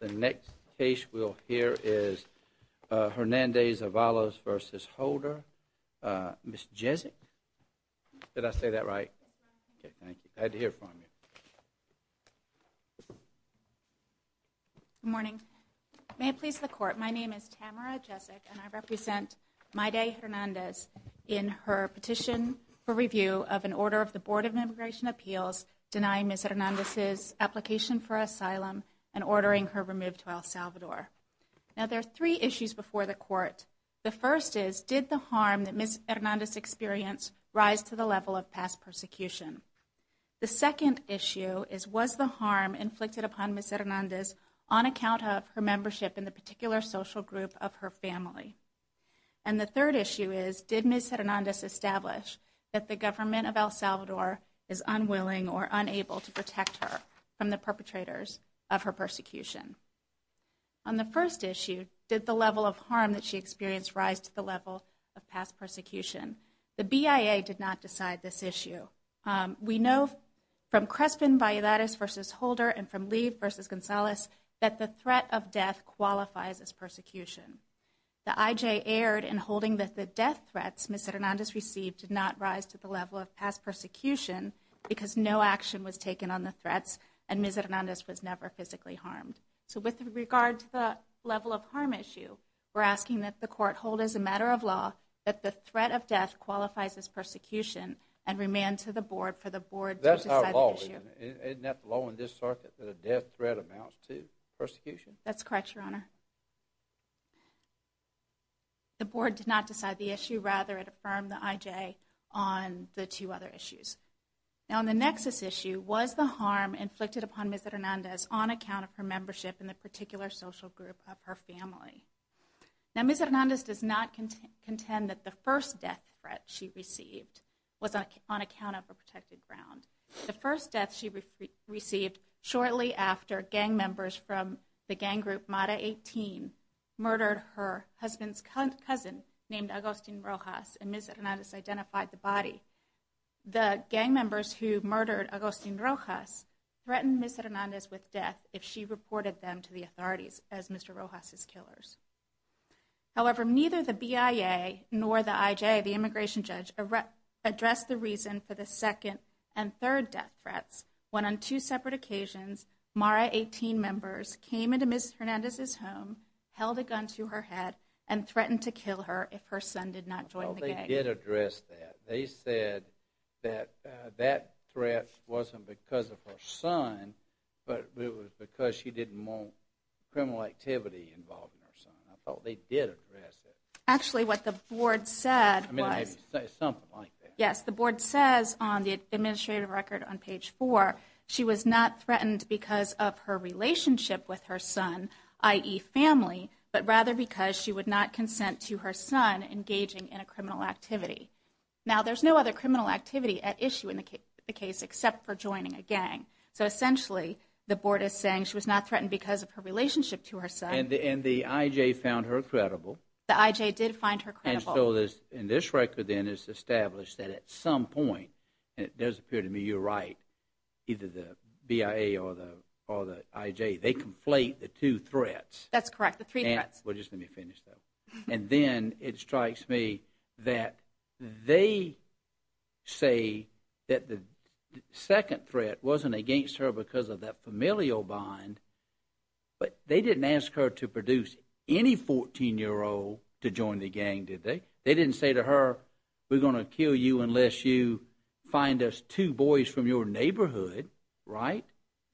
The next case we'll hear is Hernandez-Avalos v. Holder. Ms. Jezik? Did I say that right? Okay, thank you. I had to hear it from you. Good morning. May it please the Court, my name is Tamara Jezik and I represent Maidai Hernandez in her petition for review of an order of the Board of Immigration Appeals denying Ms. Hernandez's application for asylum and ordering her removed to El Salvador. Now, there are three issues before the Court. The first is, did the harm that Ms. Hernandez experienced rise to the level of past persecution? The second issue is, was the harm inflicted upon Ms. Hernandez on account of her membership in the particular social group of her family? And the third issue is, did Ms. Hernandez establish that the government of El Salvador is unwilling or unable to protect her from the perpetrators of her persecution? On the first issue, did the level of harm that she experienced rise to the level of past persecution? The BIA did not decide this issue. We know from Crespin Valladares v. Holder and from Lee v. Gonzalez that the threat of death qualifies as persecution. The IJ erred in holding that the death threats Ms. Hernandez received did not rise to the level of past persecution because no action was taken on the threats and Ms. Hernandez was never physically harmed. So with regard to the level of harm issue, we're asking that the Court hold as a matter of law that the threat of death qualifies as persecution and remand to the Board for the Board to decide the issue. Isn't that the law in this circuit that a death threat amounts to persecution? That's correct, Your Honor. The Board did not decide the issue. Rather, it affirmed the IJ on the two other issues. Now on the nexus issue, was the harm inflicted upon Ms. Hernandez on account of her membership in the particular social group of her family? Now Ms. Hernandez does not contend that the first death threat she received was on account of a protected ground. The first death she received shortly after gang members from the gang group Mata 18 murdered her husband's cousin named Agustin Rojas and Ms. Hernandez identified the body. The gang members who murdered Agustin Rojas threatened Ms. Hernandez with death if she reported them to the authorities as Mr. Rojas' killers. However, neither the BIA nor the IJ, the immigration judge, addressed the reason for the second and third death threats when on two separate occasions Mata 18 members came into Ms. Hernandez's home, held a gun to her head, and threatened to kill her if her son did not join the gang. Well, they did address that. They said that that threat wasn't because of her son, but it was because she did more criminal activity involving her son. I thought they did address it. Actually, what the board said was, yes, the board says on the administrative record on page four, she was not threatened because of her relationship with her son, i.e. family, but rather because she would not consent to her son engaging in a criminal activity. Now, there's no other criminal activity at issue in the case except for joining a gang. So essentially, the board is saying she was not threatened because of her relationship to her son. And the IJ found her credible. The IJ did find her credible. And so this record then has established that at some point, and it does appear to me you're right, either the BIA or the IJ, they conflate the two threats. That's correct, the three threats. Well, just let me finish, though. And then it strikes me that they say that the second threat wasn't against her because of that familial bond, but they didn't ask her to produce any 14-year-old to join the gang, did they? They didn't say to her, we're going to kill you unless you find us two boys from your neighborhood, right?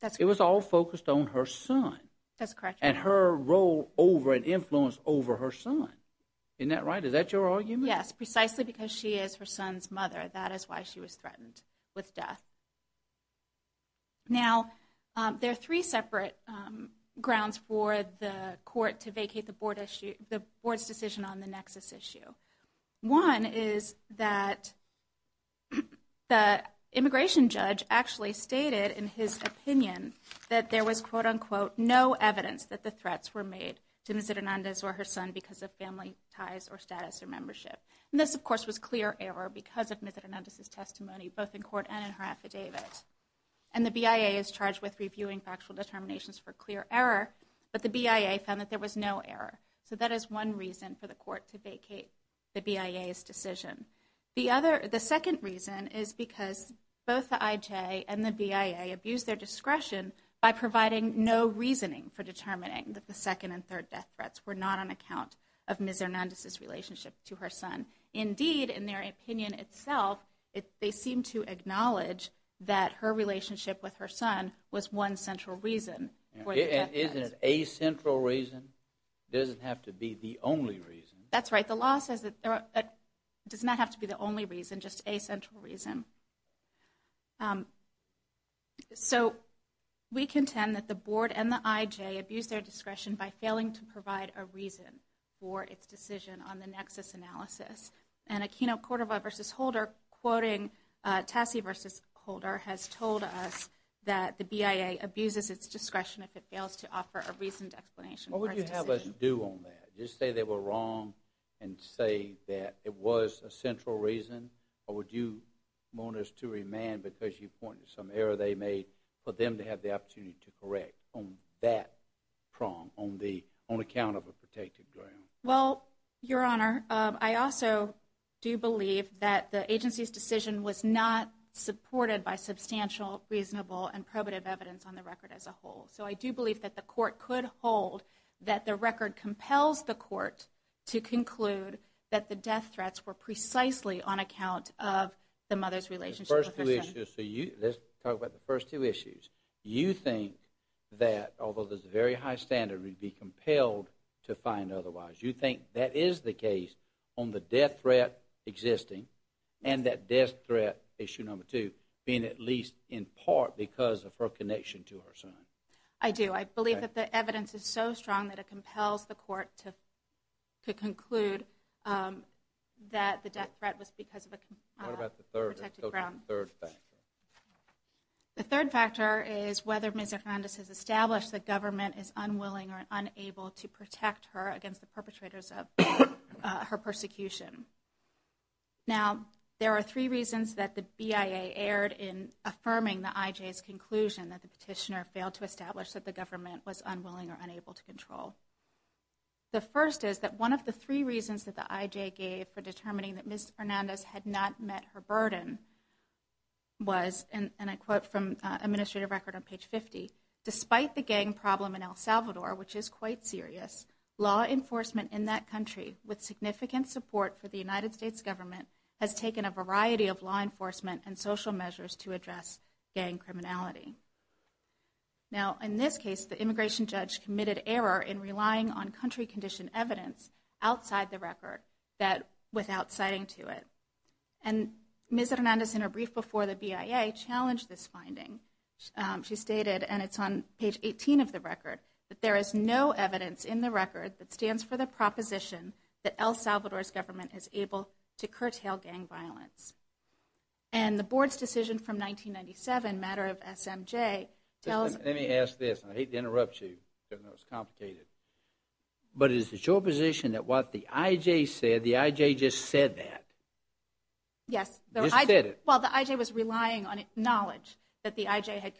That's correct. It was all focused on her son. That's correct. And her role over and influence over her son. Isn't that right? Is that your argument? Yes, precisely because she is her son's mother. That is why she was threatened with death. Now, there are three separate grounds for the court to vacate the board's decision on the nexus issue. One is that the immigration judge actually stated in his opinion that there was, quote, unquote, no evidence that the threats were made to Ms. Hernandez or her son because of family ties or status or membership. And this, of course, was clear error because of Ms. Hernandez's testimony, both in court and in her affidavit. And the BIA is charged with reviewing factual determinations for clear error, but the BIA found that there was no error. So that is one reason for the court to vacate the BIA's decision. The second reason is because both the IJ and the BIA abused their discretion by providing no reasoning for determining that the second and third death threats were not on account of Ms. Hernandez's relationship to her son. Indeed, in their opinion itself, they seem to acknowledge that her relationship with her son was one central reason for the death threats. Isn't it a central reason? It doesn't have to be the only reason. That's right. The law says it does not have to be the only reason, just a central reason. So we contend that the board and the IJ abused their discretion by failing to provide a reason for its decision on the nexus analysis. And Aquino Cordova v. Holder, quoting Tassie v. Holder, has told us that the BIA abuses its discretion if it fails to offer a reasoned explanation for its decision. What would you have us do on that? Just say they were wrong and say that it was a central reason? Or would you want us to remand because you pointed to some error they made for them to have the opportunity to correct on that prong, on account of a protected ground? Well, Your Honor, I also do believe that the agency's decision was not supported by substantial, reasonable, and probative evidence on the record as a whole. So I do believe that the court could hold that the record compels the court to conclude that the death threats were precisely on account of the mother's relationship with her son. Let's talk about the first two issues. You think that, although there's a very high standard, we'd be compelled to find otherwise. You think that is the case on the death threat existing and that death threat, issue number two, being at least in part because of her connection to her son? I do. I believe that the evidence is so strong that it compels the court to conclude that the death threat was because of a protected ground. What about the third factor? The third factor is whether Ms. Hernandez has established the government is unwilling or unable to protect her against the perpetrators of her persecution. Now, there are three reasons that the BIA erred in affirming the IJ's conclusion that the petitioner failed to establish that the government was unwilling or unable to control. The first is that one of the three reasons that the IJ gave for determining that Ms. Hernandez had not met her burden was, and I quote from administrative record on page 50, despite the gang problem in El Salvador, which is quite serious, law enforcement in that country with significant support for the United States government has taken a variety of law enforcement and social measures to address gang criminality. Now, in this case, the immigration judge committed error in relying on country condition evidence outside the record without citing to it. And Ms. Hernandez, in her brief before the BIA, challenged this finding. She stated, and it's on page 18 of the record, that there is no evidence in the record that stands for the proposition that El Salvador's government is able to curtail gang violence. And the board's decision from 1997, a matter of SMJ, tells us... But is it your position that what the IJ said, the IJ just said that? Yes. Just said it. Well, the IJ was relying on knowledge that the IJ had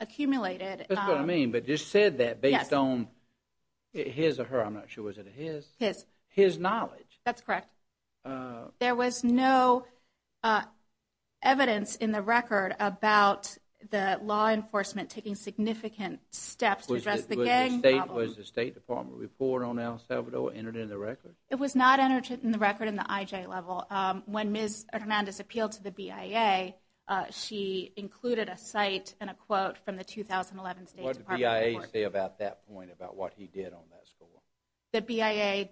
accumulated. That's what I mean, but just said that based on his or her, I'm not sure, was it his? His. His knowledge. That's correct. There was no evidence in the record about the law enforcement taking significant steps to address the gang problem. Was the State Department report on El Salvador entered in the record? It was not entered in the record in the IJ level. When Ms. Hernandez appealed to the BIA, she included a cite and a quote from the 2011 State Department report. What did the BIA say about that point, about what he did on that score? The BIA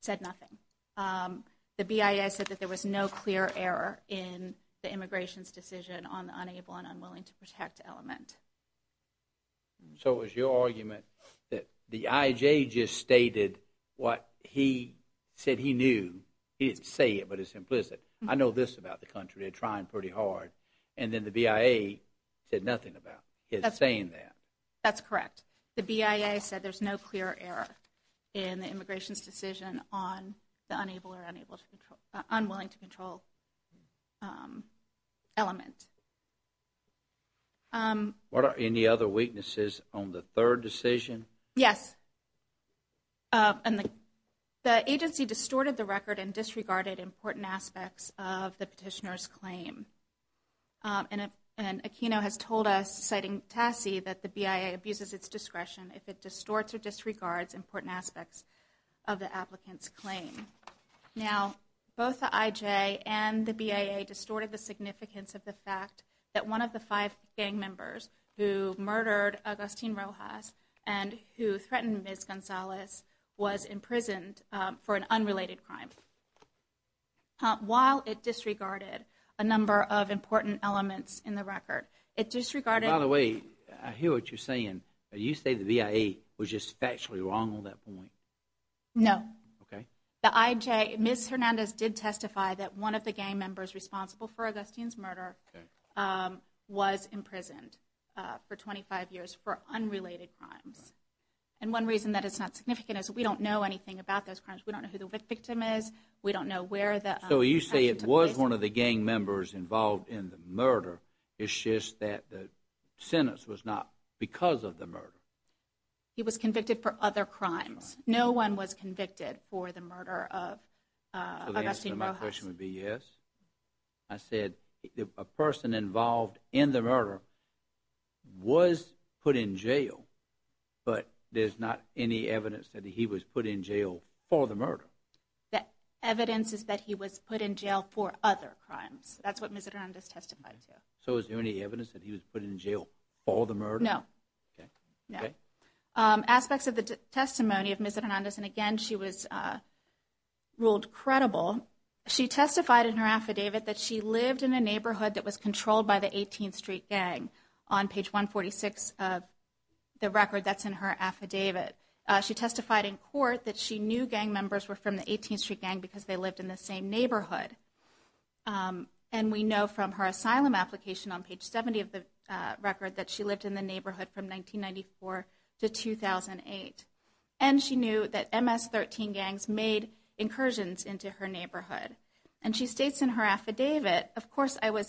said nothing. The BIA said that there was no clear error in the immigration's decision on the unable and unwilling to protect element. So it was your argument that the IJ just stated what he said he knew. He didn't say it, but it's implicit. I know this about the country. They're trying pretty hard. And then the BIA said nothing about his saying that. That's correct. The BIA said there's no clear error in the immigration's decision on the unable or What are any other weaknesses on the third decision? Yes. The agency distorted the record and disregarded important aspects of the petitioner's claim. And Aquino has told us, citing Tassi, that the BIA abuses its discretion if it distorts or disregards important aspects of the applicant's claim. Now, both the IJ and the BIA distorted the significance of the fact that one of the five gang members who murdered Agustin Rojas and who threatened Ms. Gonzalez was imprisoned for an unrelated crime. While it disregarded a number of important elements in the record, it disregarded By the way, I hear what you're saying. You say the BIA was just factually wrong on that point? No. Okay. The IJ, Ms. Hernandez did testify that one of the gang members responsible for Agustin's murder was imprisoned for 25 years for unrelated crimes. And one reason that it's not significant is we don't know anything about those crimes. We don't know who the victim is. We don't know where the action took place. So you say it was one of the gang members involved in the murder. It's just that the sentence was not because of the murder. He was convicted for other crimes. No one was convicted for the murder of Agustin Rojas. So the answer to my question would be yes? I said a person involved in the murder was put in jail, but there's not any evidence that he was put in jail for the murder. The evidence is that he was put in jail for other crimes. That's what Ms. Hernandez testified to. So is there any evidence that he was put in jail for the murder? No. Okay. Aspects of the testimony of Ms. Hernandez, and again, she was ruled credible. She testified in her affidavit that she lived in a neighborhood that was controlled by the 18th Street Gang. On page 146 of the record that's in her affidavit, she testified in court that she knew gang members were from the 18th Street Gang because they lived in the same neighborhood. And we know from her asylum application on page 70 of the record that she lived in the neighborhood from 1994 to 2008. And she knew that MS-13 gangs made incursions into her neighborhood. And she states in her affidavit, Also in her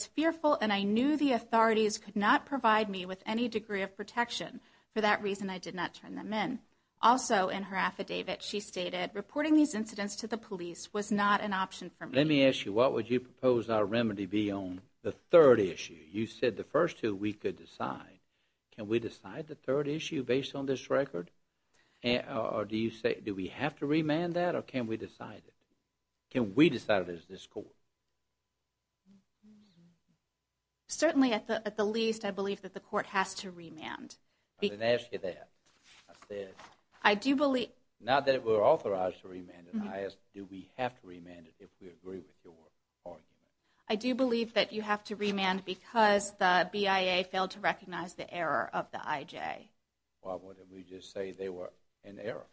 affidavit, she stated, Let me ask you, what would you propose our remedy be on the third issue? You said the first two we could decide. Can we decide the third issue based on this record? Or do you say, do we have to remand that or can we decide it? Can we decide it as this court? Certainly, at the least, I believe that the court has to remand. I didn't ask you that. I said, not that we're authorized to remand it. I asked, do we have to remand it if we agree with your argument? I do believe that you have to remand because the BIA failed to recognize the error of the IJ. Why wouldn't we just say they were in error?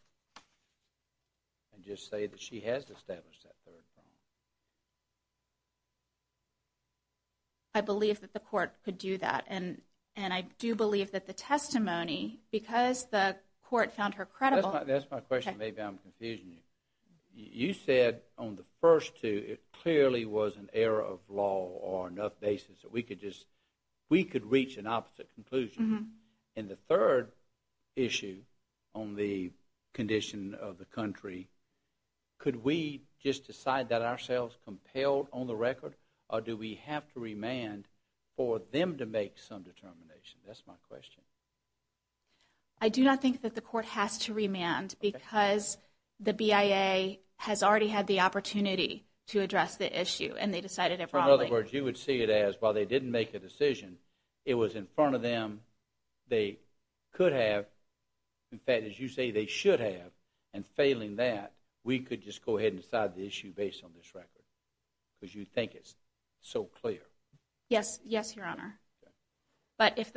And just say that she has established that third crime. I believe that the court could do that. And I do believe that the testimony, because the court found her credible, That's my question. Maybe I'm confusing you. You said on the first two, it clearly was an error of law or enough basis that we could reach an opposite conclusion. And the third issue on the condition of the country, Could we just decide that ourselves compelled on the record? Or do we have to remand for them to make some determination? That's my question. I do not think that the court has to remand because the BIA has already had the opportunity to address the issue. And they decided it wrongly. In other words, you would see it as, while they didn't make a decision, It was in front of them. They could have. In fact, as you say, they should have. And failing that, we could just go ahead and decide the issue based on this record. Because you think it's so clear. Yes. Yes, Your Honor. But if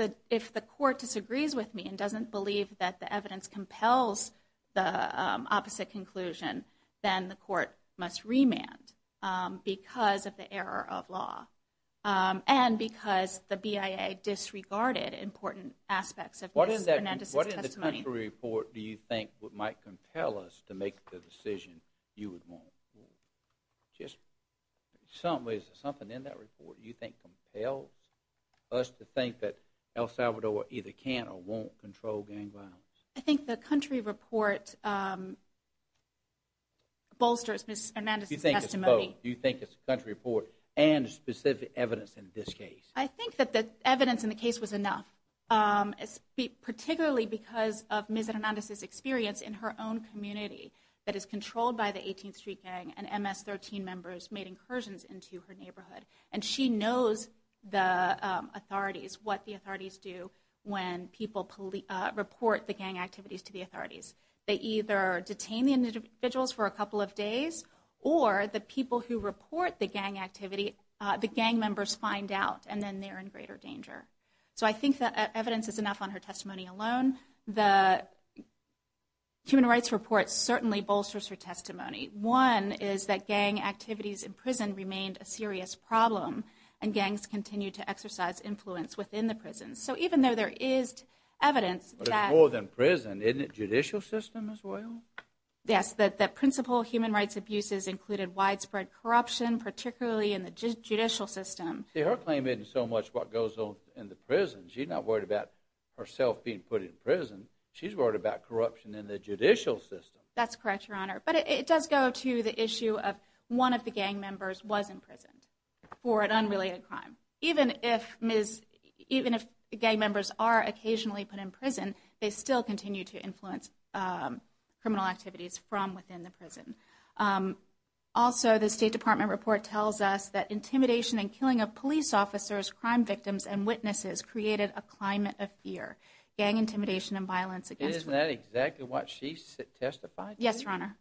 the court disagrees with me and doesn't believe that the evidence compels the opposite conclusion, Then the court must remand because of the error of law. And because the BIA disregarded important aspects of Ms. Hernandez's testimony. What in the country report do you think might compel us to make the decision you would want? Just something in that report you think compels us to think that El Salvador either can or won't control gang violence? I think the country report bolsters Ms. Hernandez's testimony. Do you think it's the country report and specific evidence in this case? I think that the evidence in the case was enough. Particularly because of Ms. Hernandez's experience in her own community that is controlled by the 18th Street Gang And MS-13 members made incursions into her neighborhood. And she knows the authorities, what the authorities do when people report the gang activities to the authorities. They either detain the individuals for a couple of days or the people who report the gang activity, The gang members find out and then they're in greater danger. So I think that evidence is enough on her testimony alone. The human rights report certainly bolsters her testimony. One is that gang activities in prison remained a serious problem. And gangs continue to exercise influence within the prisons. So even though there is evidence that It's more than prison, isn't it judicial system as well? Yes, the principal human rights abuses included widespread corruption, particularly in the judicial system. See, her claim isn't so much what goes on in the prison. She's not worried about herself being put in prison. She's worried about corruption in the judicial system. That's correct, Your Honor. But it does go to the issue of one of the gang members was imprisoned for an unrelated crime. Even if gang members are occasionally put in prison, They still continue to influence criminal activities from within the prison. Also, the State Department report tells us that intimidation and killing of police officers, Crime victims and witnesses created a climate of fear. Gang intimidation and violence against women. Isn't that exactly what she testified to? Yes, Your Honor.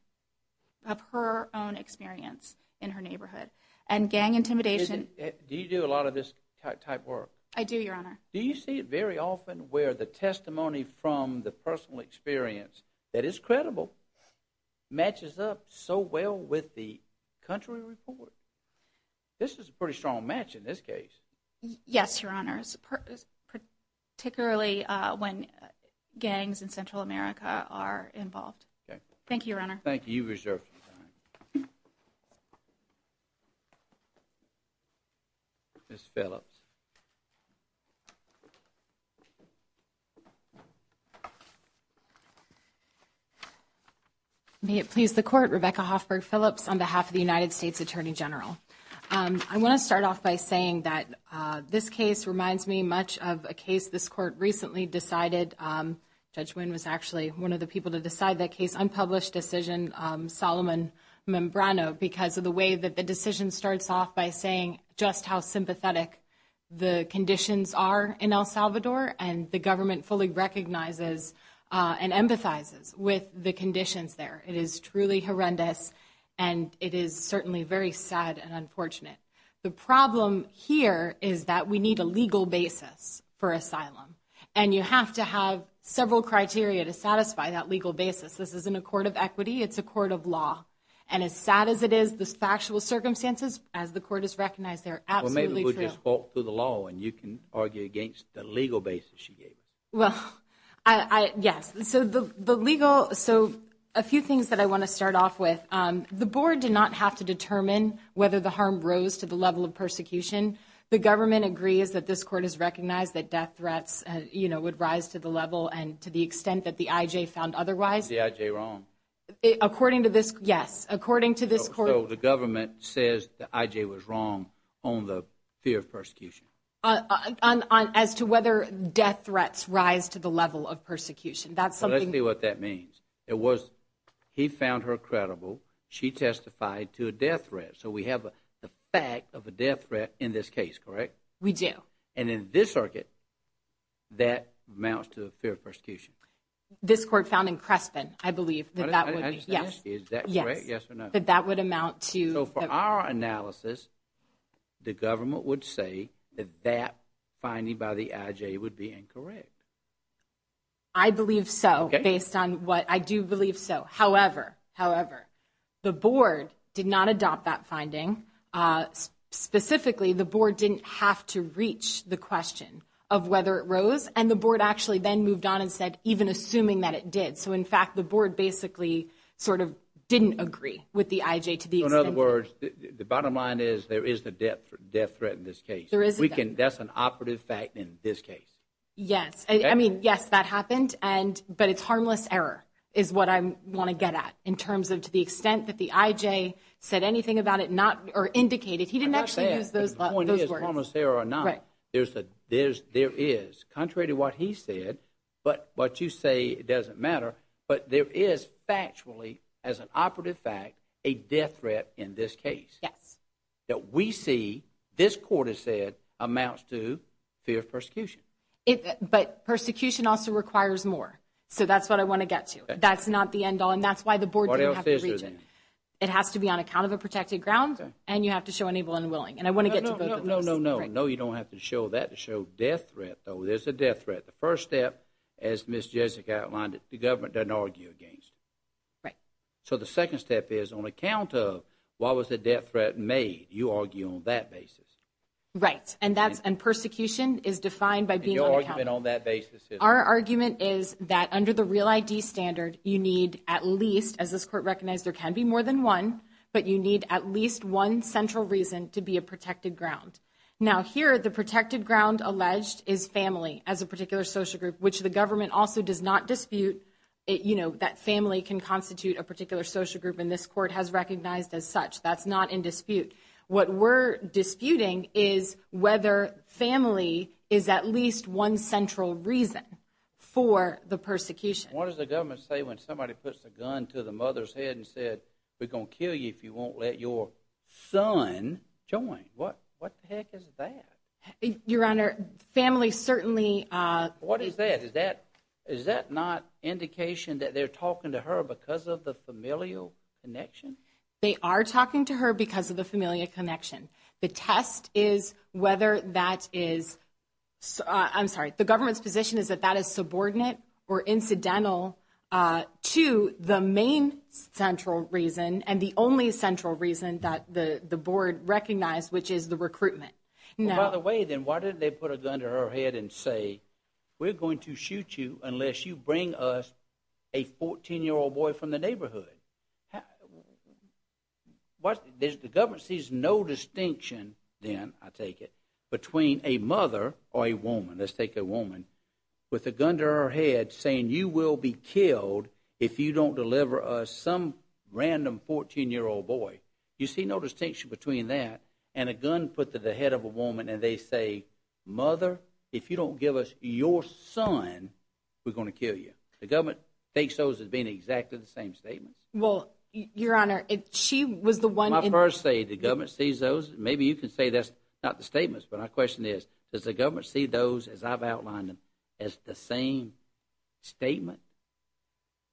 Of her own experience in her neighborhood. And gang intimidation Do you do a lot of this type of work? I do, Your Honor. Do you see it very often where the testimony from the personal experience that is credible Matches up so well with the country report? This is a pretty strong match in this case. Yes, Your Honor. Particularly when gangs in Central America are involved. Thank you, Your Honor. Thank you. You reserved some time. Ms. Phillips. May it please the Court, Rebecca Hoffberg Phillips on behalf of the United States Attorney General. I want to start off by saying that this case reminds me much of a case this Court recently decided. Judge Wynn was actually one of the people to decide that case. Because of the way that the decision starts off by saying just how sympathetic the conditions are in El Salvador. And the government fully recognizes and empathizes with the conditions there. It is truly horrendous. And it is certainly very sad and unfortunate. The problem here is that we need a legal basis for asylum. And you have to have several criteria to satisfy that legal basis. This isn't a court of equity. It's a court of law. And as sad as it is, the factual circumstances, as the Court has recognized, they're absolutely true. Well, maybe we'll just walk through the law and you can argue against the legal basis she gave us. Well, yes. So the legal, so a few things that I want to start off with. The Board did not have to determine whether the harm rose to the level of persecution. The government agrees that this Court has recognized that death threats would rise to the level and to the extent that the IJ found otherwise. Is the IJ wrong? According to this, yes. According to this Court. So the government says the IJ was wrong on the fear of persecution. As to whether death threats rise to the level of persecution. That's something. Well, let's see what that means. It was he found her credible. She testified to a death threat. So we have the fact of a death threat in this case, correct? We do. And in this circuit, that amounts to the fear of persecution. This Court found in Crespen, I believe, that that would be, yes. Is that correct, yes or no? That that would amount to. So for our analysis, the government would say that that finding by the IJ would be incorrect. I believe so. Okay. Based on what, I do believe so. However, however, the Board did not adopt that finding. Specifically, the Board didn't have to reach the question of whether it rose. And the Board actually then moved on and said, even assuming that it did. So in fact, the Board basically sort of didn't agree with the IJ to the extent that. In other words, the bottom line is there is a death threat in this case. There is a death threat. That's an operative fact in this case. Yes. I mean, yes, that happened. But it's harmless error is what I want to get at in terms of to the extent that the IJ said anything about it or indicated. He didn't actually use those words. There is. Contrary to what he said, but what you say doesn't matter. But there is factually, as an operative fact, a death threat in this case. Yes. That we see this court has said amounts to fear of persecution. But persecution also requires more. So that's what I want to get to. That's not the end all. And that's why the Board didn't have to reach it. What else is there then? It has to be on account of a protected ground. And you have to show an able and willing. And I want to get to both of those. No, no, no. No, you don't have to show that to show death threat, though. There's a death threat. The first step, as Ms. Jessica outlined, the government doesn't argue against. Right. So the second step is on account of why was the death threat made, you argue on that basis. Right. And that's – and persecution is defined by being on account. And your argument on that basis is? Our argument is that under the REAL ID standard, you need at least, as this court recognized, there can be more than one. But you need at least one central reason to be a protected ground. Now, here, the protected ground alleged is family as a particular social group, which the government also does not dispute. You know, that family can constitute a particular social group. And this court has recognized as such. That's not in dispute. What we're disputing is whether family is at least one central reason for the persecution. What does the government say when somebody puts a gun to the mother's head and said, we're going to kill you if you won't let your son join? What the heck is that? Your Honor, family certainly – What is that? Is that not indication that they're talking to her because of the familial connection? They are talking to her because of the familial connection. The test is whether that is – I'm sorry. The government's position is that that is subordinate or incidental to the main central reason and the only central reason that the board recognized, which is the recruitment. By the way, then, why didn't they put a gun to her head and say, we're going to shoot you unless you bring us a 14-year-old boy from the neighborhood? The government sees no distinction then, I take it, between a mother or a woman. Let's take a woman with a gun to her head saying, you will be killed if you don't deliver us some random 14-year-old boy. You see no distinction between that and a gun put to the head of a woman and they say, mother, if you don't give us your son, we're going to kill you. The government thinks those as being exactly the same statements. Well, Your Honor, if she was the one – When I first say the government sees those, maybe you can say that's not the statements, but my question is, does the government see those as I've outlined them as the same statement?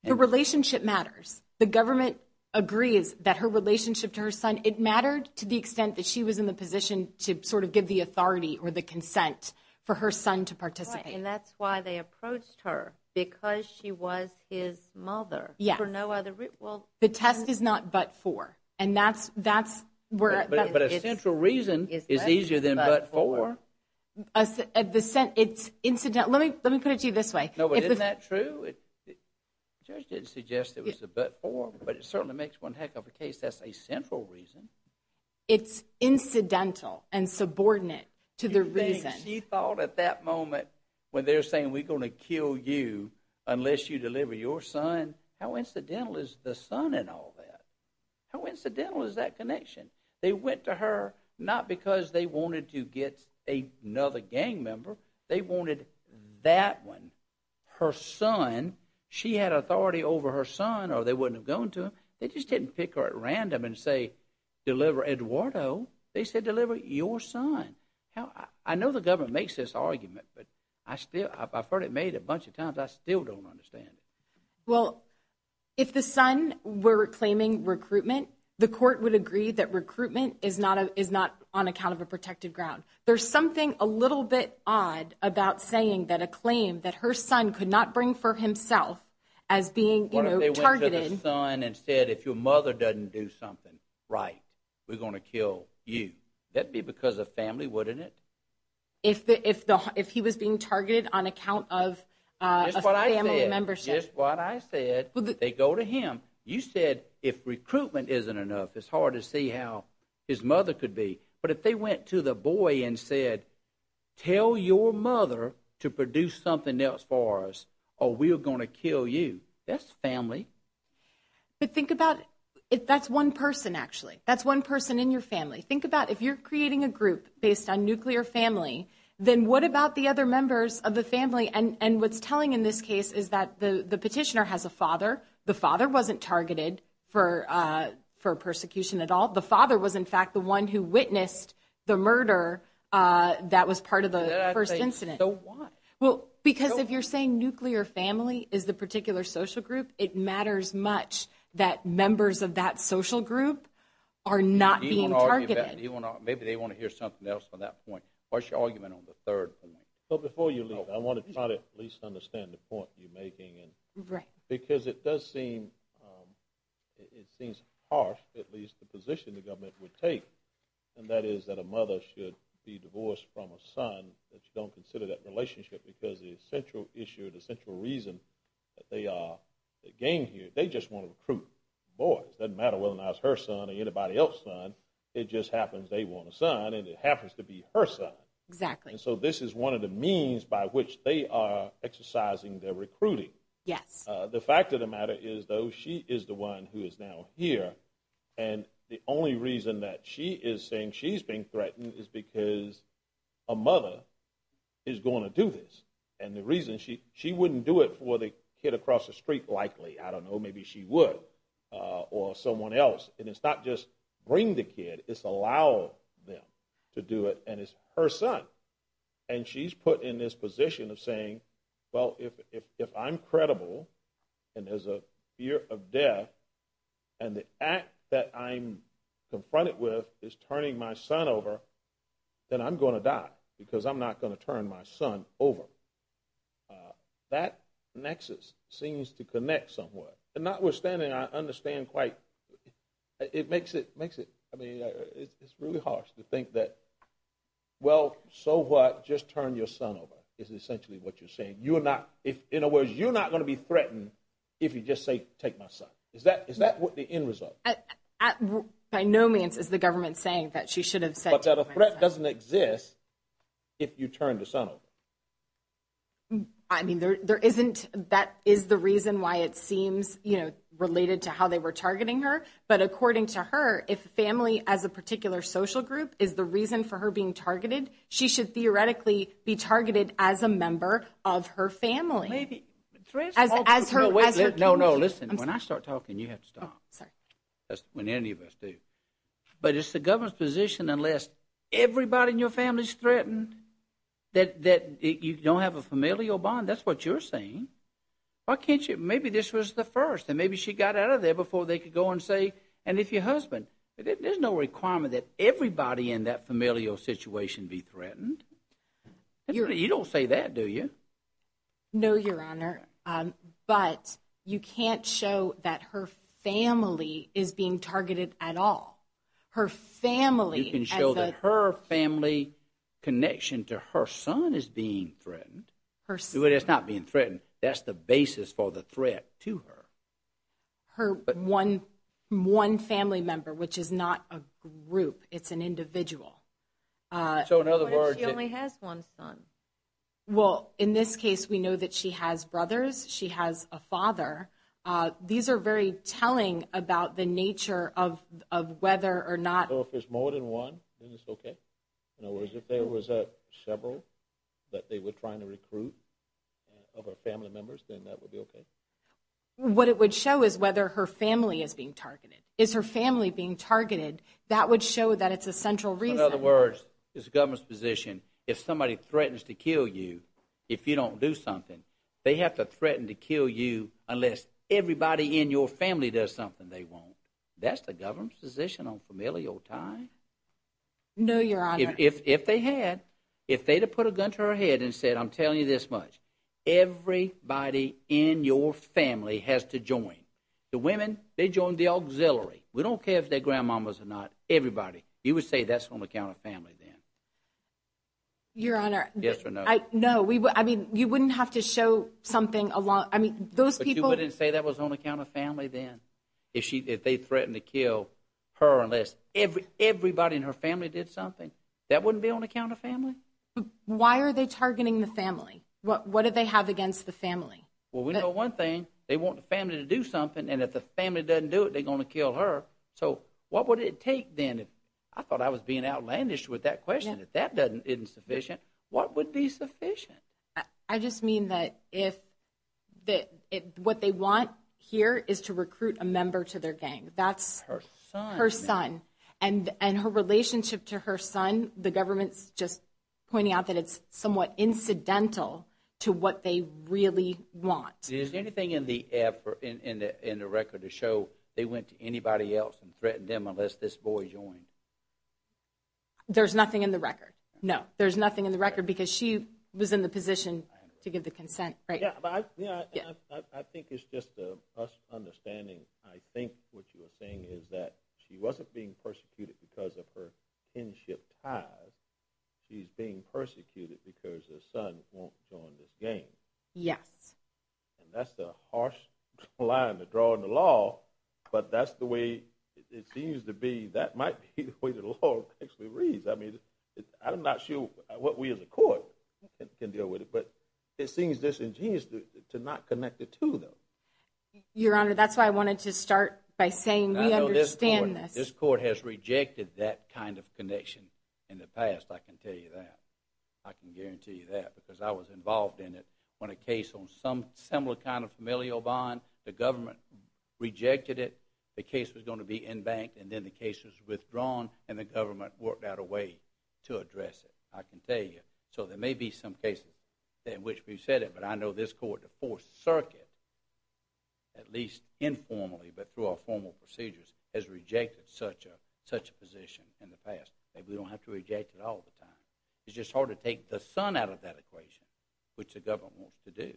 The relationship matters. The government agrees that her relationship to her son – it mattered to the extent that she was in the position to sort of give the authority or the consent for her son to participate. And that's why they approached her, because she was his mother. Yes. For no other – well – The test is not but for, and that's where – But a central reason is easier than but for. It's incidental. Let me put it to you this way. Isn't that true? The judge didn't suggest it was a but for, but it certainly makes one heck of a case that's a central reason. It's incidental and subordinate to the reason. She thought at that moment when they're saying, we're going to kill you unless you deliver your son, how incidental is the son in all that? How incidental is that connection? They went to her not because they wanted to get another gang member. They wanted that one, her son. She had authority over her son or they wouldn't have gone to him. They just didn't pick her at random and say, deliver Eduardo. They said, deliver your son. I know the government makes this argument, but I've heard it made a bunch of times. I still don't understand it. Well, if the son were claiming recruitment, the court would agree that recruitment is not on account of a protected ground. There's something a little bit odd about saying that a claim that her son could not bring for himself as being targeted – What if they went to the son and said, if your mother doesn't do something right, we're going to kill you. That would be because of family, wouldn't it? If he was being targeted on account of a family membership. That's what I said. That's what I said. They go to him. You said, if recruitment isn't enough, it's hard to see how his mother could be. But if they went to the boy and said, tell your mother to produce something else for us or we're going to kill you. That's family. But think about it. That's one person, actually. That's one person in your family. Think about if you're creating a group based on nuclear family, then what about the other members of the family? And what's telling in this case is that the petitioner has a father. The father wasn't targeted for persecution at all. The father was, in fact, the one who witnessed the murder that was part of the first incident. So why? Because if you're saying nuclear family is the particular social group, it matters much that members of that social group are not being targeted. Maybe they want to hear something else on that point. What's your argument on the third point? Before you leave, I want to try to at least understand the point you're making. Because it does seem harsh, at least the position the government would take. And that is that a mother should be divorced from a son that you don't consider that relationship because the central issue, the central reason that they came here, they just want to recruit boys. It doesn't matter whether or not it's her son or anybody else's son. It just happens they want a son, and it happens to be her son. Exactly. And so this is one of the means by which they are exercising their recruiting. Yes. The fact of the matter is, though, she is the one who is now here. And the only reason that she is saying she's being threatened is because a mother is going to do this. And the reason she wouldn't do it for the kid across the street, likely. I don't know. Maybe she would or someone else. And it's not just bring the kid. It's allow them to do it, and it's her son. And she's put in this position of saying, well, if I'm credible and there's a fear of death and the act that I'm confronted with is turning my son over, then I'm going to die because I'm not going to turn my son over. So that nexus seems to connect somewhat. And notwithstanding, I understand quite, it makes it, I mean, it's really harsh to think that, well, so what, just turn your son over is essentially what you're saying. In other words, you're not going to be threatened if you just say take my son. Is that the end result? By no means is the government saying that she should have said take my son. But that a threat doesn't exist if you turn the son over. I mean, there isn't, that is the reason why it seems, you know, related to how they were targeting her. But according to her, if family as a particular social group is the reason for her being targeted, she should theoretically be targeted as a member of her family. Maybe. As her community. No, no, listen. When I start talking, you have to stop. That's when any of us do. But it's the government's position unless everybody in your family is threatened, that you don't have a familial bond. That's what you're saying. Why can't you, maybe this was the first and maybe she got out of there before they could go and say, and if your husband, there's no requirement that everybody in that familial situation be threatened. You don't say that, do you? No, Your Honor. But you can't show that her family is being targeted at all. Her family. You can show that her family connection to her son is being threatened. It's not being threatened. That's the basis for the threat to her. Her one family member, which is not a group. It's an individual. So in other words. What if she only has one son? Well, in this case, we know that she has brothers. She has a father. These are very telling about the nature of whether or not. So if there's more than one, then it's okay? In other words, if there was several that they were trying to recruit of her family members, then that would be okay? What it would show is whether her family is being targeted. Is her family being targeted? That would show that it's a central reason. In other words, it's the government's position. If somebody threatens to kill you, if you don't do something, they have to threaten to kill you unless everybody in your family does something. They won't. That's the government's position on familial ties? No, Your Honor. If they had, if they'd have put a gun to her head and said, I'm telling you this much, everybody in your family has to join. The women, they join the auxiliary. We don't care if they're grandmamas or not. Everybody. You would say that's on account of family then? Your Honor. Yes or no? No. I mean, you wouldn't have to show something along. I mean, those people. But you wouldn't say that was on account of family then? If they threatened to kill her unless everybody in her family did something? That wouldn't be on account of family? Why are they targeting the family? What do they have against the family? Well, we know one thing. They want the family to do something, and if the family doesn't do it, they're going to kill her. So what would it take then? I thought I was being outlandish with that question. If that isn't sufficient, what would be sufficient? I just mean that if what they want here is to recruit a member to their gang. That's her son. Her son. And her relationship to her son, the government's just pointing out that it's somewhat incidental to what they really want. Is there anything in the record to show they went to anybody else and threatened them unless this boy joined? There's nothing in the record. No, there's nothing in the record because she was in the position to give the consent right now. I think it's just us understanding. I think what you were saying is that she wasn't being persecuted because of her kinship ties. She's being persecuted because her son won't join this gang. Yes. And that's the harsh line to draw in the law, but that's the way it seems to be. That might be the way the law actually reads. I mean, I'm not sure what we as a court can deal with it, but it seems disingenuous to not connect the two, though. Your Honor, that's why I wanted to start by saying we understand this. This court has rejected that kind of connection in the past, I can tell you that. I can guarantee you that because I was involved in it when a case on some similar kind of familial bond, the government rejected it, the case was going to be embanked, and then the case was withdrawn, and the government worked out a way to address it, I can tell you. So there may be some cases in which we've said it, but I know this court, the Fourth Circuit, at least informally but through our formal procedures, has rejected such a position in the past. We don't have to reject it all the time. It's just hard to take the sun out of that equation, which the government wants to do.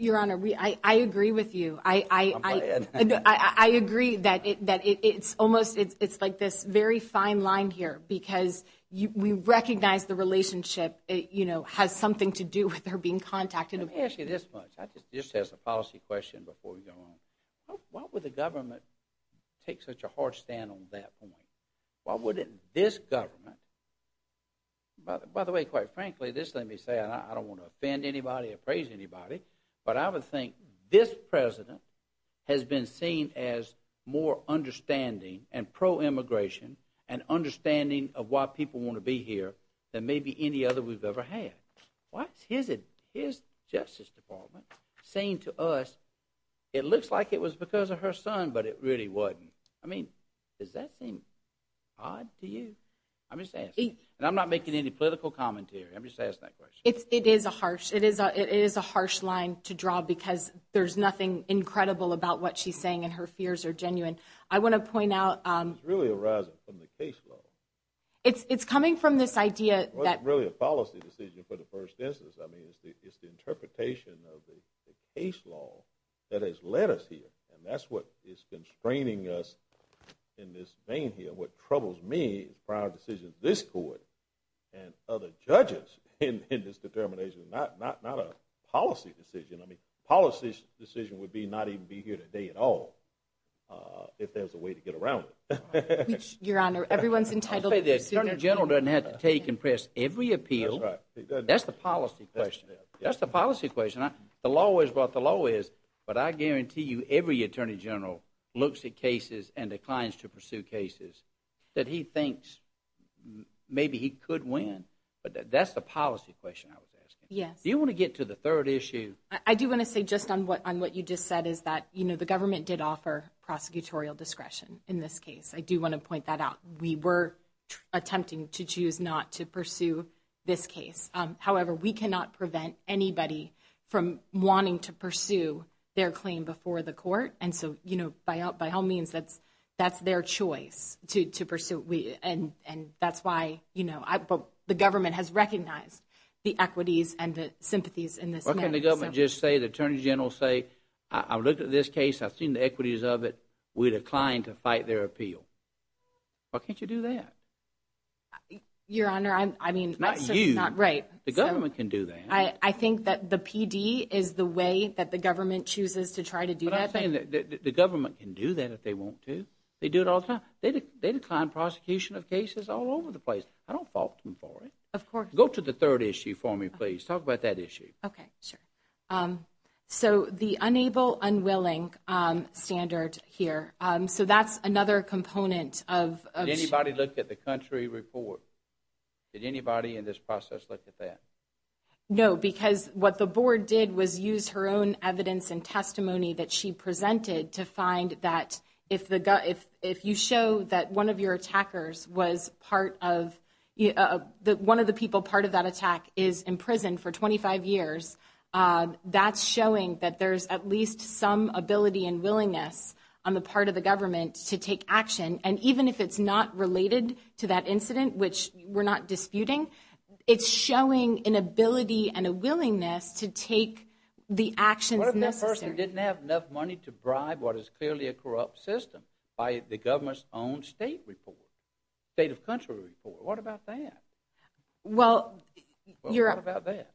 Your Honor, I agree with you. I agree that it's almost like this very fine line here because we recognize the relationship has something to do with her being contacted. Let me ask you this much. This has a policy question before we go on. Why would the government take such a hard stand on that point? Why wouldn't this government? By the way, quite frankly, this let me say, and I don't want to offend anybody or praise anybody, but I would think this President has been seen as more understanding and pro-immigration and understanding of why people want to be here than maybe any other we've ever had. Why is his Justice Department saying to us, it looks like it was because of her son, but it really wasn't? I mean, does that seem odd to you? I'm just asking. And I'm not making any political commentary. I'm just asking that question. It is a harsh line to draw because there's nothing incredible about what she's saying, and her fears are genuine. I want to point out. It's really arising from the case law. It's coming from this idea that. Well, it's really a policy decision for the first instance. I mean, it's the interpretation of the case law that has led us here, and that's what is constraining us in this vein here. What troubles me is prior decisions of this court and other judges in this determination. It's not a policy decision. I mean, policy decision would be not even be here today at all if there's a way to get around it. Your Honor, everyone's entitled. The Attorney General doesn't have to take and press every appeal. That's the policy question. That's the policy question. The law is what the law is, but I guarantee you every Attorney General looks at cases and declines to pursue cases that he thinks maybe he could win, but that's the policy question I was asking. Yes. Do you want to get to the third issue? I do want to say just on what you just said is that, you know, the government did offer prosecutorial discretion in this case. I do want to point that out. We were attempting to choose not to pursue this case. However, we cannot prevent anybody from wanting to pursue their claim before the court, and so, you know, by all means, that's their choice to pursue. And that's why, you know, the government has recognized the equities and the sympathies in this matter. What can the government just say, the Attorney General say, I looked at this case, I've seen the equities of it, we declined to fight their appeal? Why can't you do that? Your Honor, I mean. It's not you. It's not right. The government can do that. I think that the PD is the way that the government chooses to try to do that. But I'm saying that the government can do that if they want to. They do it all the time. They decline prosecution of cases all over the place. I don't fault them for it. Of course. Go to the third issue for me, please. Talk about that issue. Okay, sure. So the unable unwilling standard here, so that's another component of... Did anybody look at the country report? Did anybody in this process look at that? No, because what the board did was use her own evidence and testimony that she presented to find that if you show that one of your attackers was part of... One of the people part of that attack is in prison for 25 years, that's showing that there's at least some ability and willingness on the part of the government to take action. And even if it's not related to that incident, which we're not disputing, it's showing an ability and a willingness to take the actions necessary. What if that person didn't have enough money to bribe what is clearly a corrupt system by the government's own state report, state of country report? What about that? Well, you're... What about that?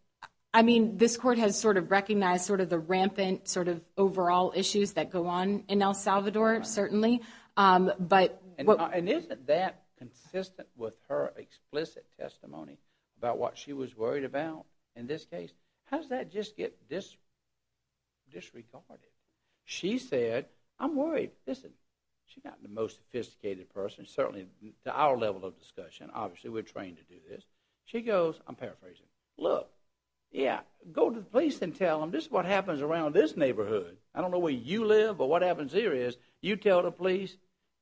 I mean, this court has sort of recognized sort of the rampant sort of overall issues that go on in El Salvador, certainly. And isn't that consistent with her explicit testimony about what she was worried about in this case? How does that just get disregarded? She said, I'm worried. Listen, she's not the most sophisticated person, certainly to our level of discussion. Obviously, we're trained to do this. She goes, I'm paraphrasing, look, yeah, go to the police and tell them this is what happens around this neighborhood. I don't know where you live or what happens here is you tell the police,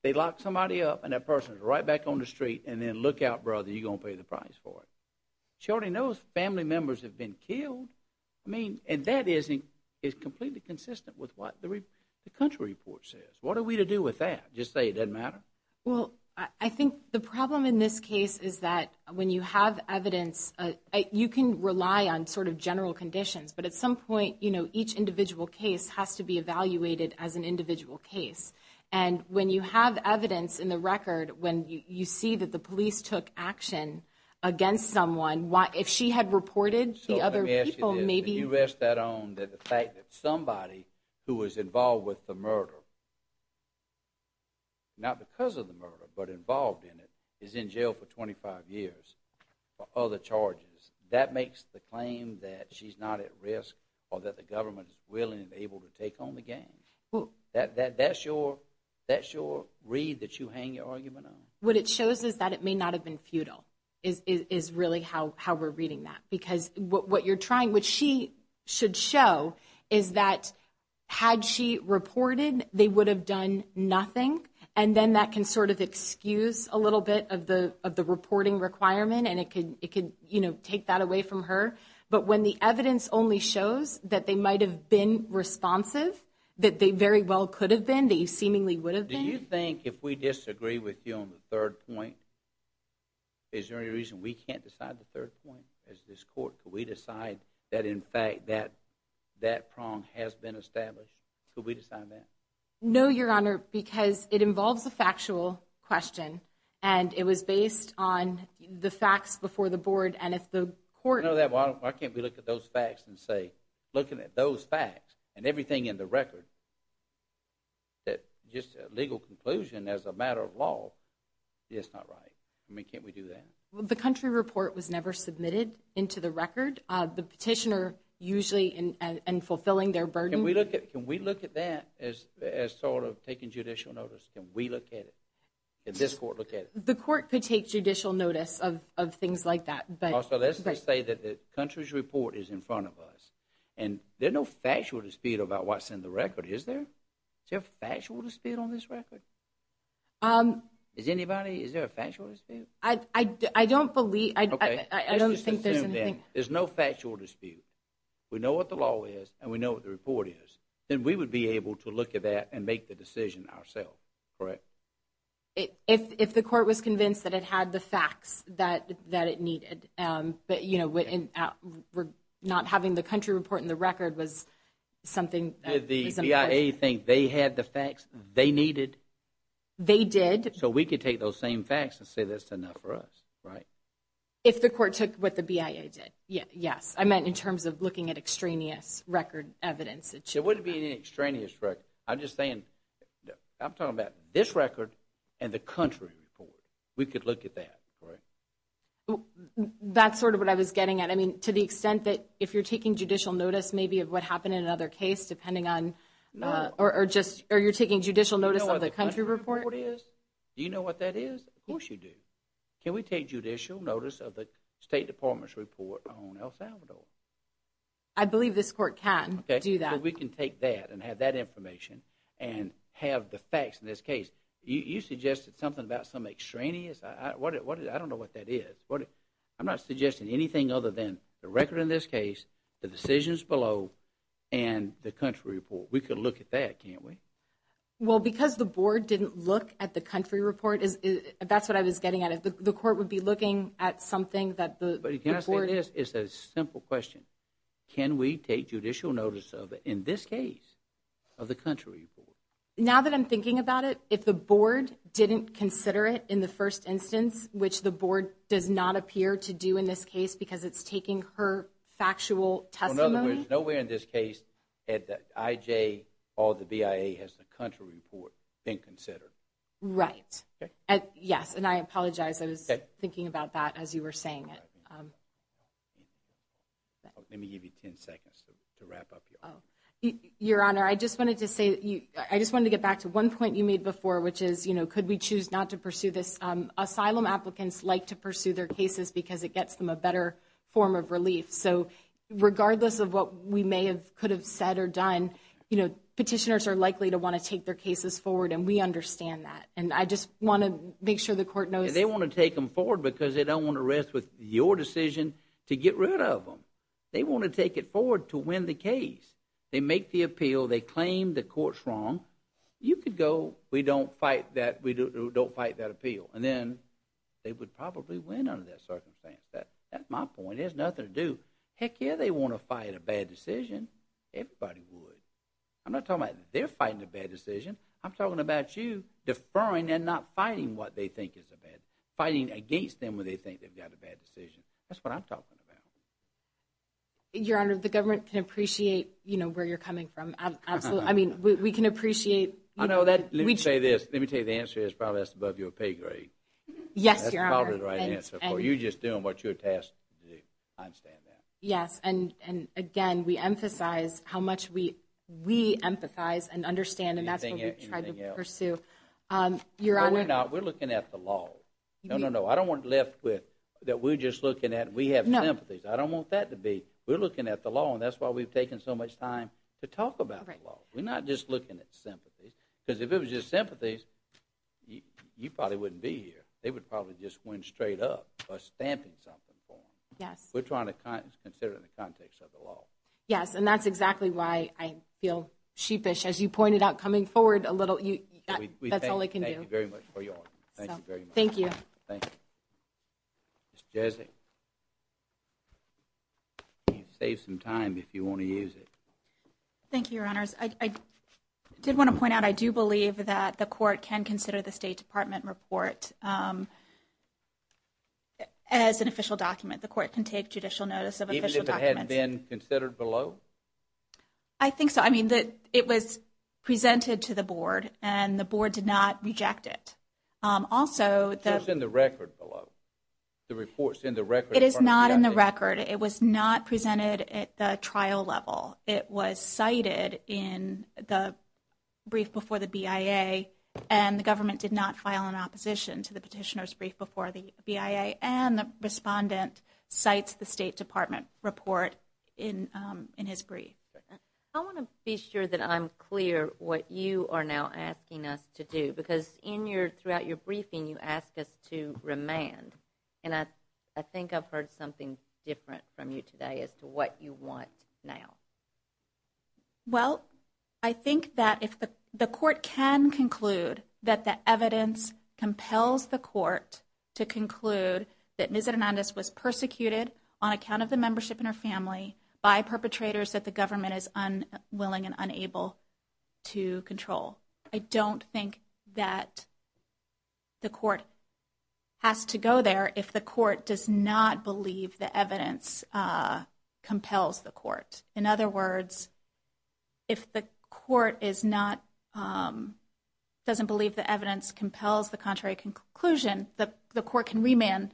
they lock somebody up and that person is right back on the street and then look out, brother, you're going to pay the price for it. She already knows family members have been killed. I mean, and that is completely consistent with what the country report says. What are we to do with that? Just say it doesn't matter? Well, I think the problem in this case is that when you have evidence, you can rely on sort of general conditions, but at some point each individual case has to be evaluated as an individual case. And when you have evidence in the record, when you see that the police took action against someone, if she had reported the other people, maybe— So let me ask you this. You rest that on the fact that somebody who was involved with the murder, not because of the murder but involved in it, is in jail for 25 years for other charges. That makes the claim that she's not at risk or that the government is willing and able to take on the gang. That's your read that you hang your argument on. What it shows is that it may not have been futile is really how we're reading that because what you're trying, which she should show, is that had she reported, they would have done nothing, and then that can sort of excuse a little bit of the reporting requirement and it could take that away from her. But when the evidence only shows that they might have been responsive, that they very well could have been, that you seemingly would have been— Do you think if we disagree with you on the third point, is there any reason we can't decide the third point as this court? Could we decide that in fact that prong has been established? Could we decide that? No, Your Honor, because it involves a factual question, and it was based on the facts before the board, and if the court— Why can't we look at those facts and say, looking at those facts and everything in the record, just a legal conclusion as a matter of law, it's not right. I mean, can't we do that? The country report was never submitted into the record. The petitioner usually in fulfilling their burden— Can we look at that as sort of taking judicial notice? Can we look at it? Can this court look at it? The court could take judicial notice of things like that, but— Also, let's just say that the country's report is in front of us, and there's no factual dispute about what's in the record, is there? Is there a factual dispute on this record? Is there a factual dispute? I don't believe— Okay, let's just assume then there's no factual dispute. We know what the law is, and we know what the report is. Then we would be able to look at that and make the decision ourselves, correct? If the court was convinced that it had the facts that it needed, but not having the country report in the record was something— Did the BIA think they had the facts they needed? They did. So we could take those same facts and say that's enough for us, right? If the court took what the BIA did, yes. I meant in terms of looking at extraneous record evidence. It wouldn't be an extraneous record. I'm just saying—I'm talking about this record and the country report. We could look at that, correct? That's sort of what I was getting at. I mean, to the extent that if you're taking judicial notice maybe of what happened in another case, depending on—or you're taking judicial notice of the country report? Do you know what the country report is? Do you know what that is? Of course you do. Can we take judicial notice of the State Department's report on El Salvador? I believe this court can do that. So we can take that and have that information and have the facts in this case. You suggested something about some extraneous. I don't know what that is. I'm not suggesting anything other than the record in this case, the decisions below, and the country report. We could look at that, can't we? Well, because the board didn't look at the country report, that's what I was getting at. The court would be looking at something that the board— But can I say this? It's a simple question. Can we take judicial notice of, in this case, of the country report? Now that I'm thinking about it, if the board didn't consider it in the first instance, which the board does not appear to do in this case because it's taking her factual testimony— Well, in other words, nowhere in this case at the IJ or the BIA has the country report been considered. Right. Yes, and I apologize. I was thinking about that as you were saying it. Let me give you 10 seconds to wrap up here. Your Honor, I just wanted to say—I just wanted to get back to one point you made before, which is could we choose not to pursue this? Asylum applicants like to pursue their cases because it gets them a better form of relief. So regardless of what we may have could have said or done, petitioners are likely to want to take their cases forward, and we understand that. And I just want to make sure the court knows— They want to take them forward because they don't want to rest with your decision to get rid of them. They want to take it forward to win the case. They make the appeal. They claim the court's wrong. You could go, we don't fight that appeal, and then they would probably win under that circumstance. That's my point. It has nothing to do—heck, yeah, they want to fight a bad decision. Everybody would. I'm not talking about they're fighting a bad decision. I'm talking about you deferring and not fighting what they think is a bad—fighting against them when they think they've got a bad decision. That's what I'm talking about. Your Honor, the government can appreciate, you know, where you're coming from, absolutely. I mean, we can appreciate— I know that—let me say this. Let me tell you the answer is probably that's above your pay grade. Yes, Your Honor. That's probably the right answer for you just doing what you're tasked to do. I understand that. Yes, and again, we emphasize how much we empathize and understand, and that's what we try to pursue. No, we're not. We're looking at the law. No, no, no. I don't want to be left with that we're just looking at—we have sympathies. I don't want that to be—we're looking at the law, and that's why we've taken so much time to talk about the law. We're not just looking at sympathies, because if it was just sympathies, you probably wouldn't be here. They would probably just win straight up by stamping something for them. Yes. We're trying to consider it in the context of the law. Yes, and that's exactly why I feel sheepish. As you pointed out coming forward a little, that's all I can do. Thank you very much for your—thank you very much. Thank you. Thank you. Ms. Jessie? You can save some time if you want to use it. Thank you, Your Honors. I did want to point out I do believe that the court can consider the State Department report as an official document. The court can take judicial notice of official documents. Even if it hadn't been considered below? I think so. I mean, it was presented to the board, and the board did not reject it. Also— It's in the record below. The report's in the record. It is not in the record. It was not presented at the trial level. It was cited in the brief before the BIA, and the government did not file an opposition to the petitioner's brief before the BIA, and the respondent cites the State Department report in his brief. I want to be sure that I'm clear what you are now asking us to do, because in your—throughout your briefing, you asked us to remand. And I think I've heard something different from you today as to what you want now. Well, I think that if the court can conclude that the evidence compels the court to conclude that Ms. Hernandez was persecuted on account of the membership in her family by perpetrators that the government is unwilling and unable to control, I don't think that the court has to go there if the court does not believe the evidence compels the court. In other words, if the court is not—doesn't believe the evidence compels the contrary conclusion, the court can remand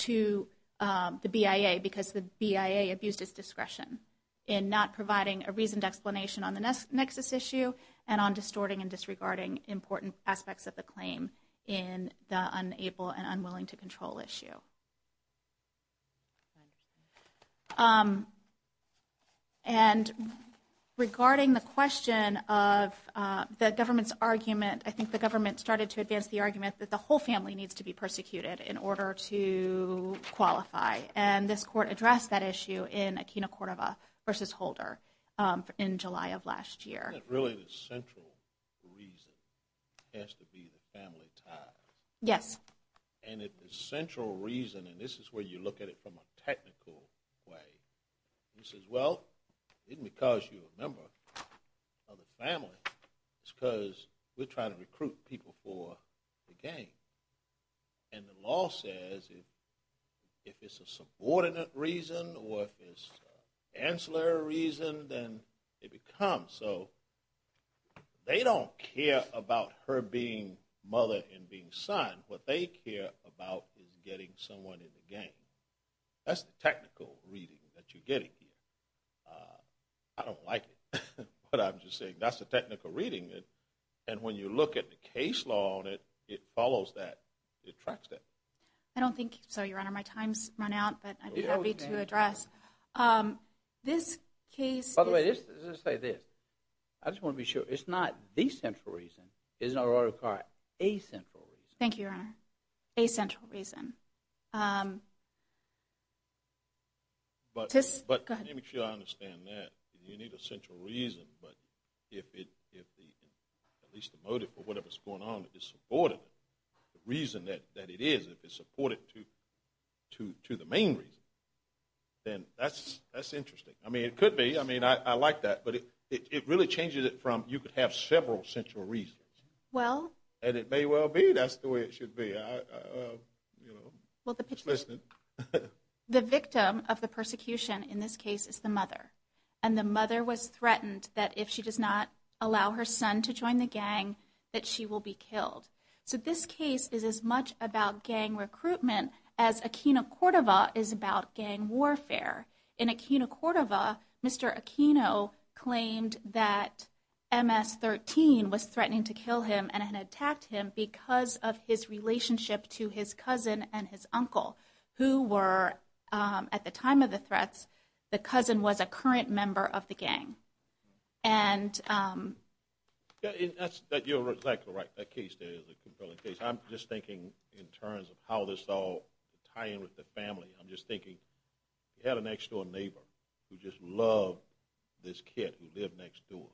to the BIA because the BIA abused its discretion in not providing a reasoned explanation on the nexus issue and on distorting and disregarding important aspects of the claim in the unable and unwilling to control issue. I think the government started to advance the argument that the whole family needs to be persecuted in order to qualify. And this court addressed that issue in Aquino-Cordova v. Holder in July of last year. Isn't it really the central reason has to be the family tie? Yes. And the central reason, and this is where you look at it from a technical way, you say, well, it isn't because you're a member of the family. It's because we're trying to recruit people for the game. And the law says if it's a subordinate reason or if it's an ancillary reason, then it becomes so. They don't care about her being mother and being son. What they care about is getting someone in the game. That's the technical reading that you're getting here. I don't like it, but I'm just saying that's the technical reading. And when you look at the case law on it, it follows that. It tracks that. I don't think so, Your Honor. My time's run out, but I'd be happy to address. This case – By the way, let's just say this. I just want to be sure. It's not the central reason. It's not a right of card. A central reason. Thank you, Your Honor. A central reason. Go ahead. Let me make sure I understand that. You need a central reason, but if at least the motive for whatever's going on is supported, the reason that it is, if it's supported to the main reason, then that's interesting. I mean, it could be. I mean, I like that. But it really changes it from you could have several central reasons. Well? And it may well be that's the way it should be. Well, the victim of the persecution in this case is the mother. And the mother was threatened that if she does not allow her son to join the gang, that she will be killed. So this case is as much about gang recruitment as Aquino Cordova is about gang warfare. In Aquino Cordova, Mr. Aquino claimed that MS-13 was threatening to kill him and had attacked him because of his relationship to his cousin and his uncle, who were, at the time of the threats, the cousin was a current member of the gang. And... You're exactly right. That case there is a compelling case. I'm just thinking in terms of how this all tie in with the family. I'm just thinking you had a next-door neighbor who just loved this kid who lived next door.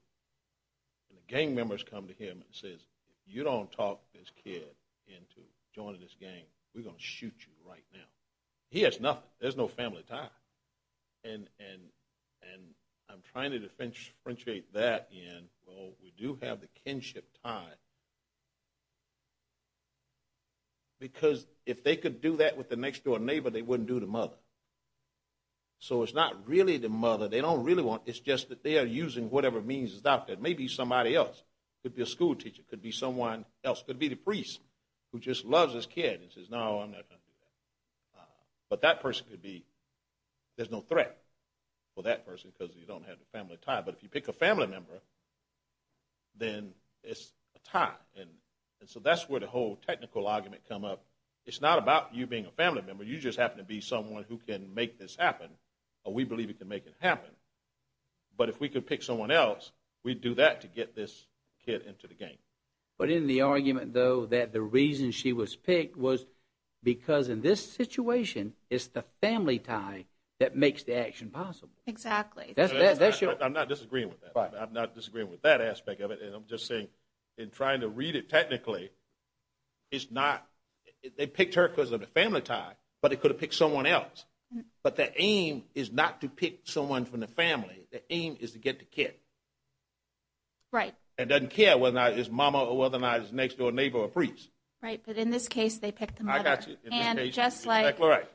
And the gang members come to him and says, if you don't talk this kid into joining this gang, we're going to shoot you right now. He has nothing. There's no family tie. And I'm trying to differentiate that and, well, we do have the kinship tie. Because if they could do that with the next-door neighbor, they wouldn't do the mother. So it's not really the mother. It's just that they are using whatever means is out there. Maybe somebody else. It could be a school teacher. It could be someone else. It could be the priest who just loves his kid and says, no, I'm not going to do that. But that person could be – there's no threat for that person because you don't have the family tie. But if you pick a family member, then it's a tie. And so that's where the whole technical argument come up. It's not about you being a family member. You just happen to be someone who can make this happen. Or we believe you can make it happen. But if we could pick someone else, we'd do that to get this kid into the game. But in the argument, though, that the reason she was picked was because in this situation, it's the family tie that makes the action possible. Exactly. I'm not disagreeing with that. I'm not disagreeing with that aspect of it. And I'm just saying in trying to read it technically, it's not – they picked her because of the family tie, but they could have picked someone else. But the aim is not to pick someone from the family. The aim is to get the kid. Right. And doesn't care whether or not it's mama or whether or not it's a next-door neighbor or a priest. Right. But in this case, they picked the mother. I got you. And just like – Right.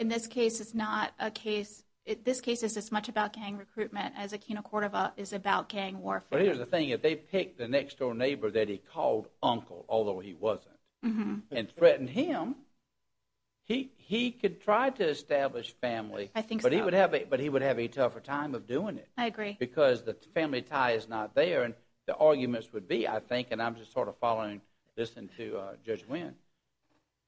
In this case, it's not a case – this case is as much about gang recruitment as Aquino Cordova is about gang warfare. But here's the thing. If they picked the next-door neighbor that he called uncle, although he wasn't, and threatened him, he could try to establish family. I think so. But he would have a tougher time of doing it. I agree. Because the family tie is not there. And the arguments would be, I think, and I'm just sort of following this into Judge Wynn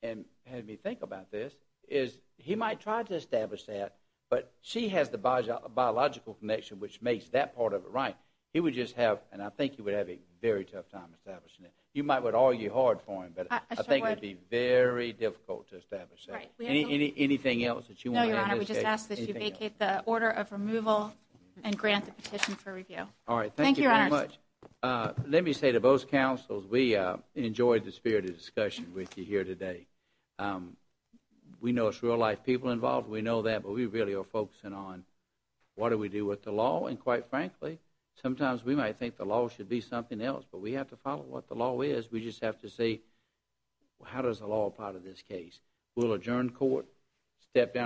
and had me think about this, is he might try to establish that, but she has the biological connection, which makes that part of it right. He would just have – and I think he would have a very tough time establishing it. You might argue hard for him, but I think it would be very difficult to establish that. Right. Anything else that you want to add? No, Your Honor. We just ask that you vacate the order of removal and grant the petition for review. All right. Thank you very much. Thank you, Your Honor. Let me say to both counsels, we enjoyed the spirit of discussion with you here today. We know it's real-life people involved. We know that, but we really are focusing on what do we do with the law. And quite frankly, sometimes we might think the law should be something else, but we have to follow what the law is. We just have to say, how does the law apply to this case? We'll adjourn court, step down.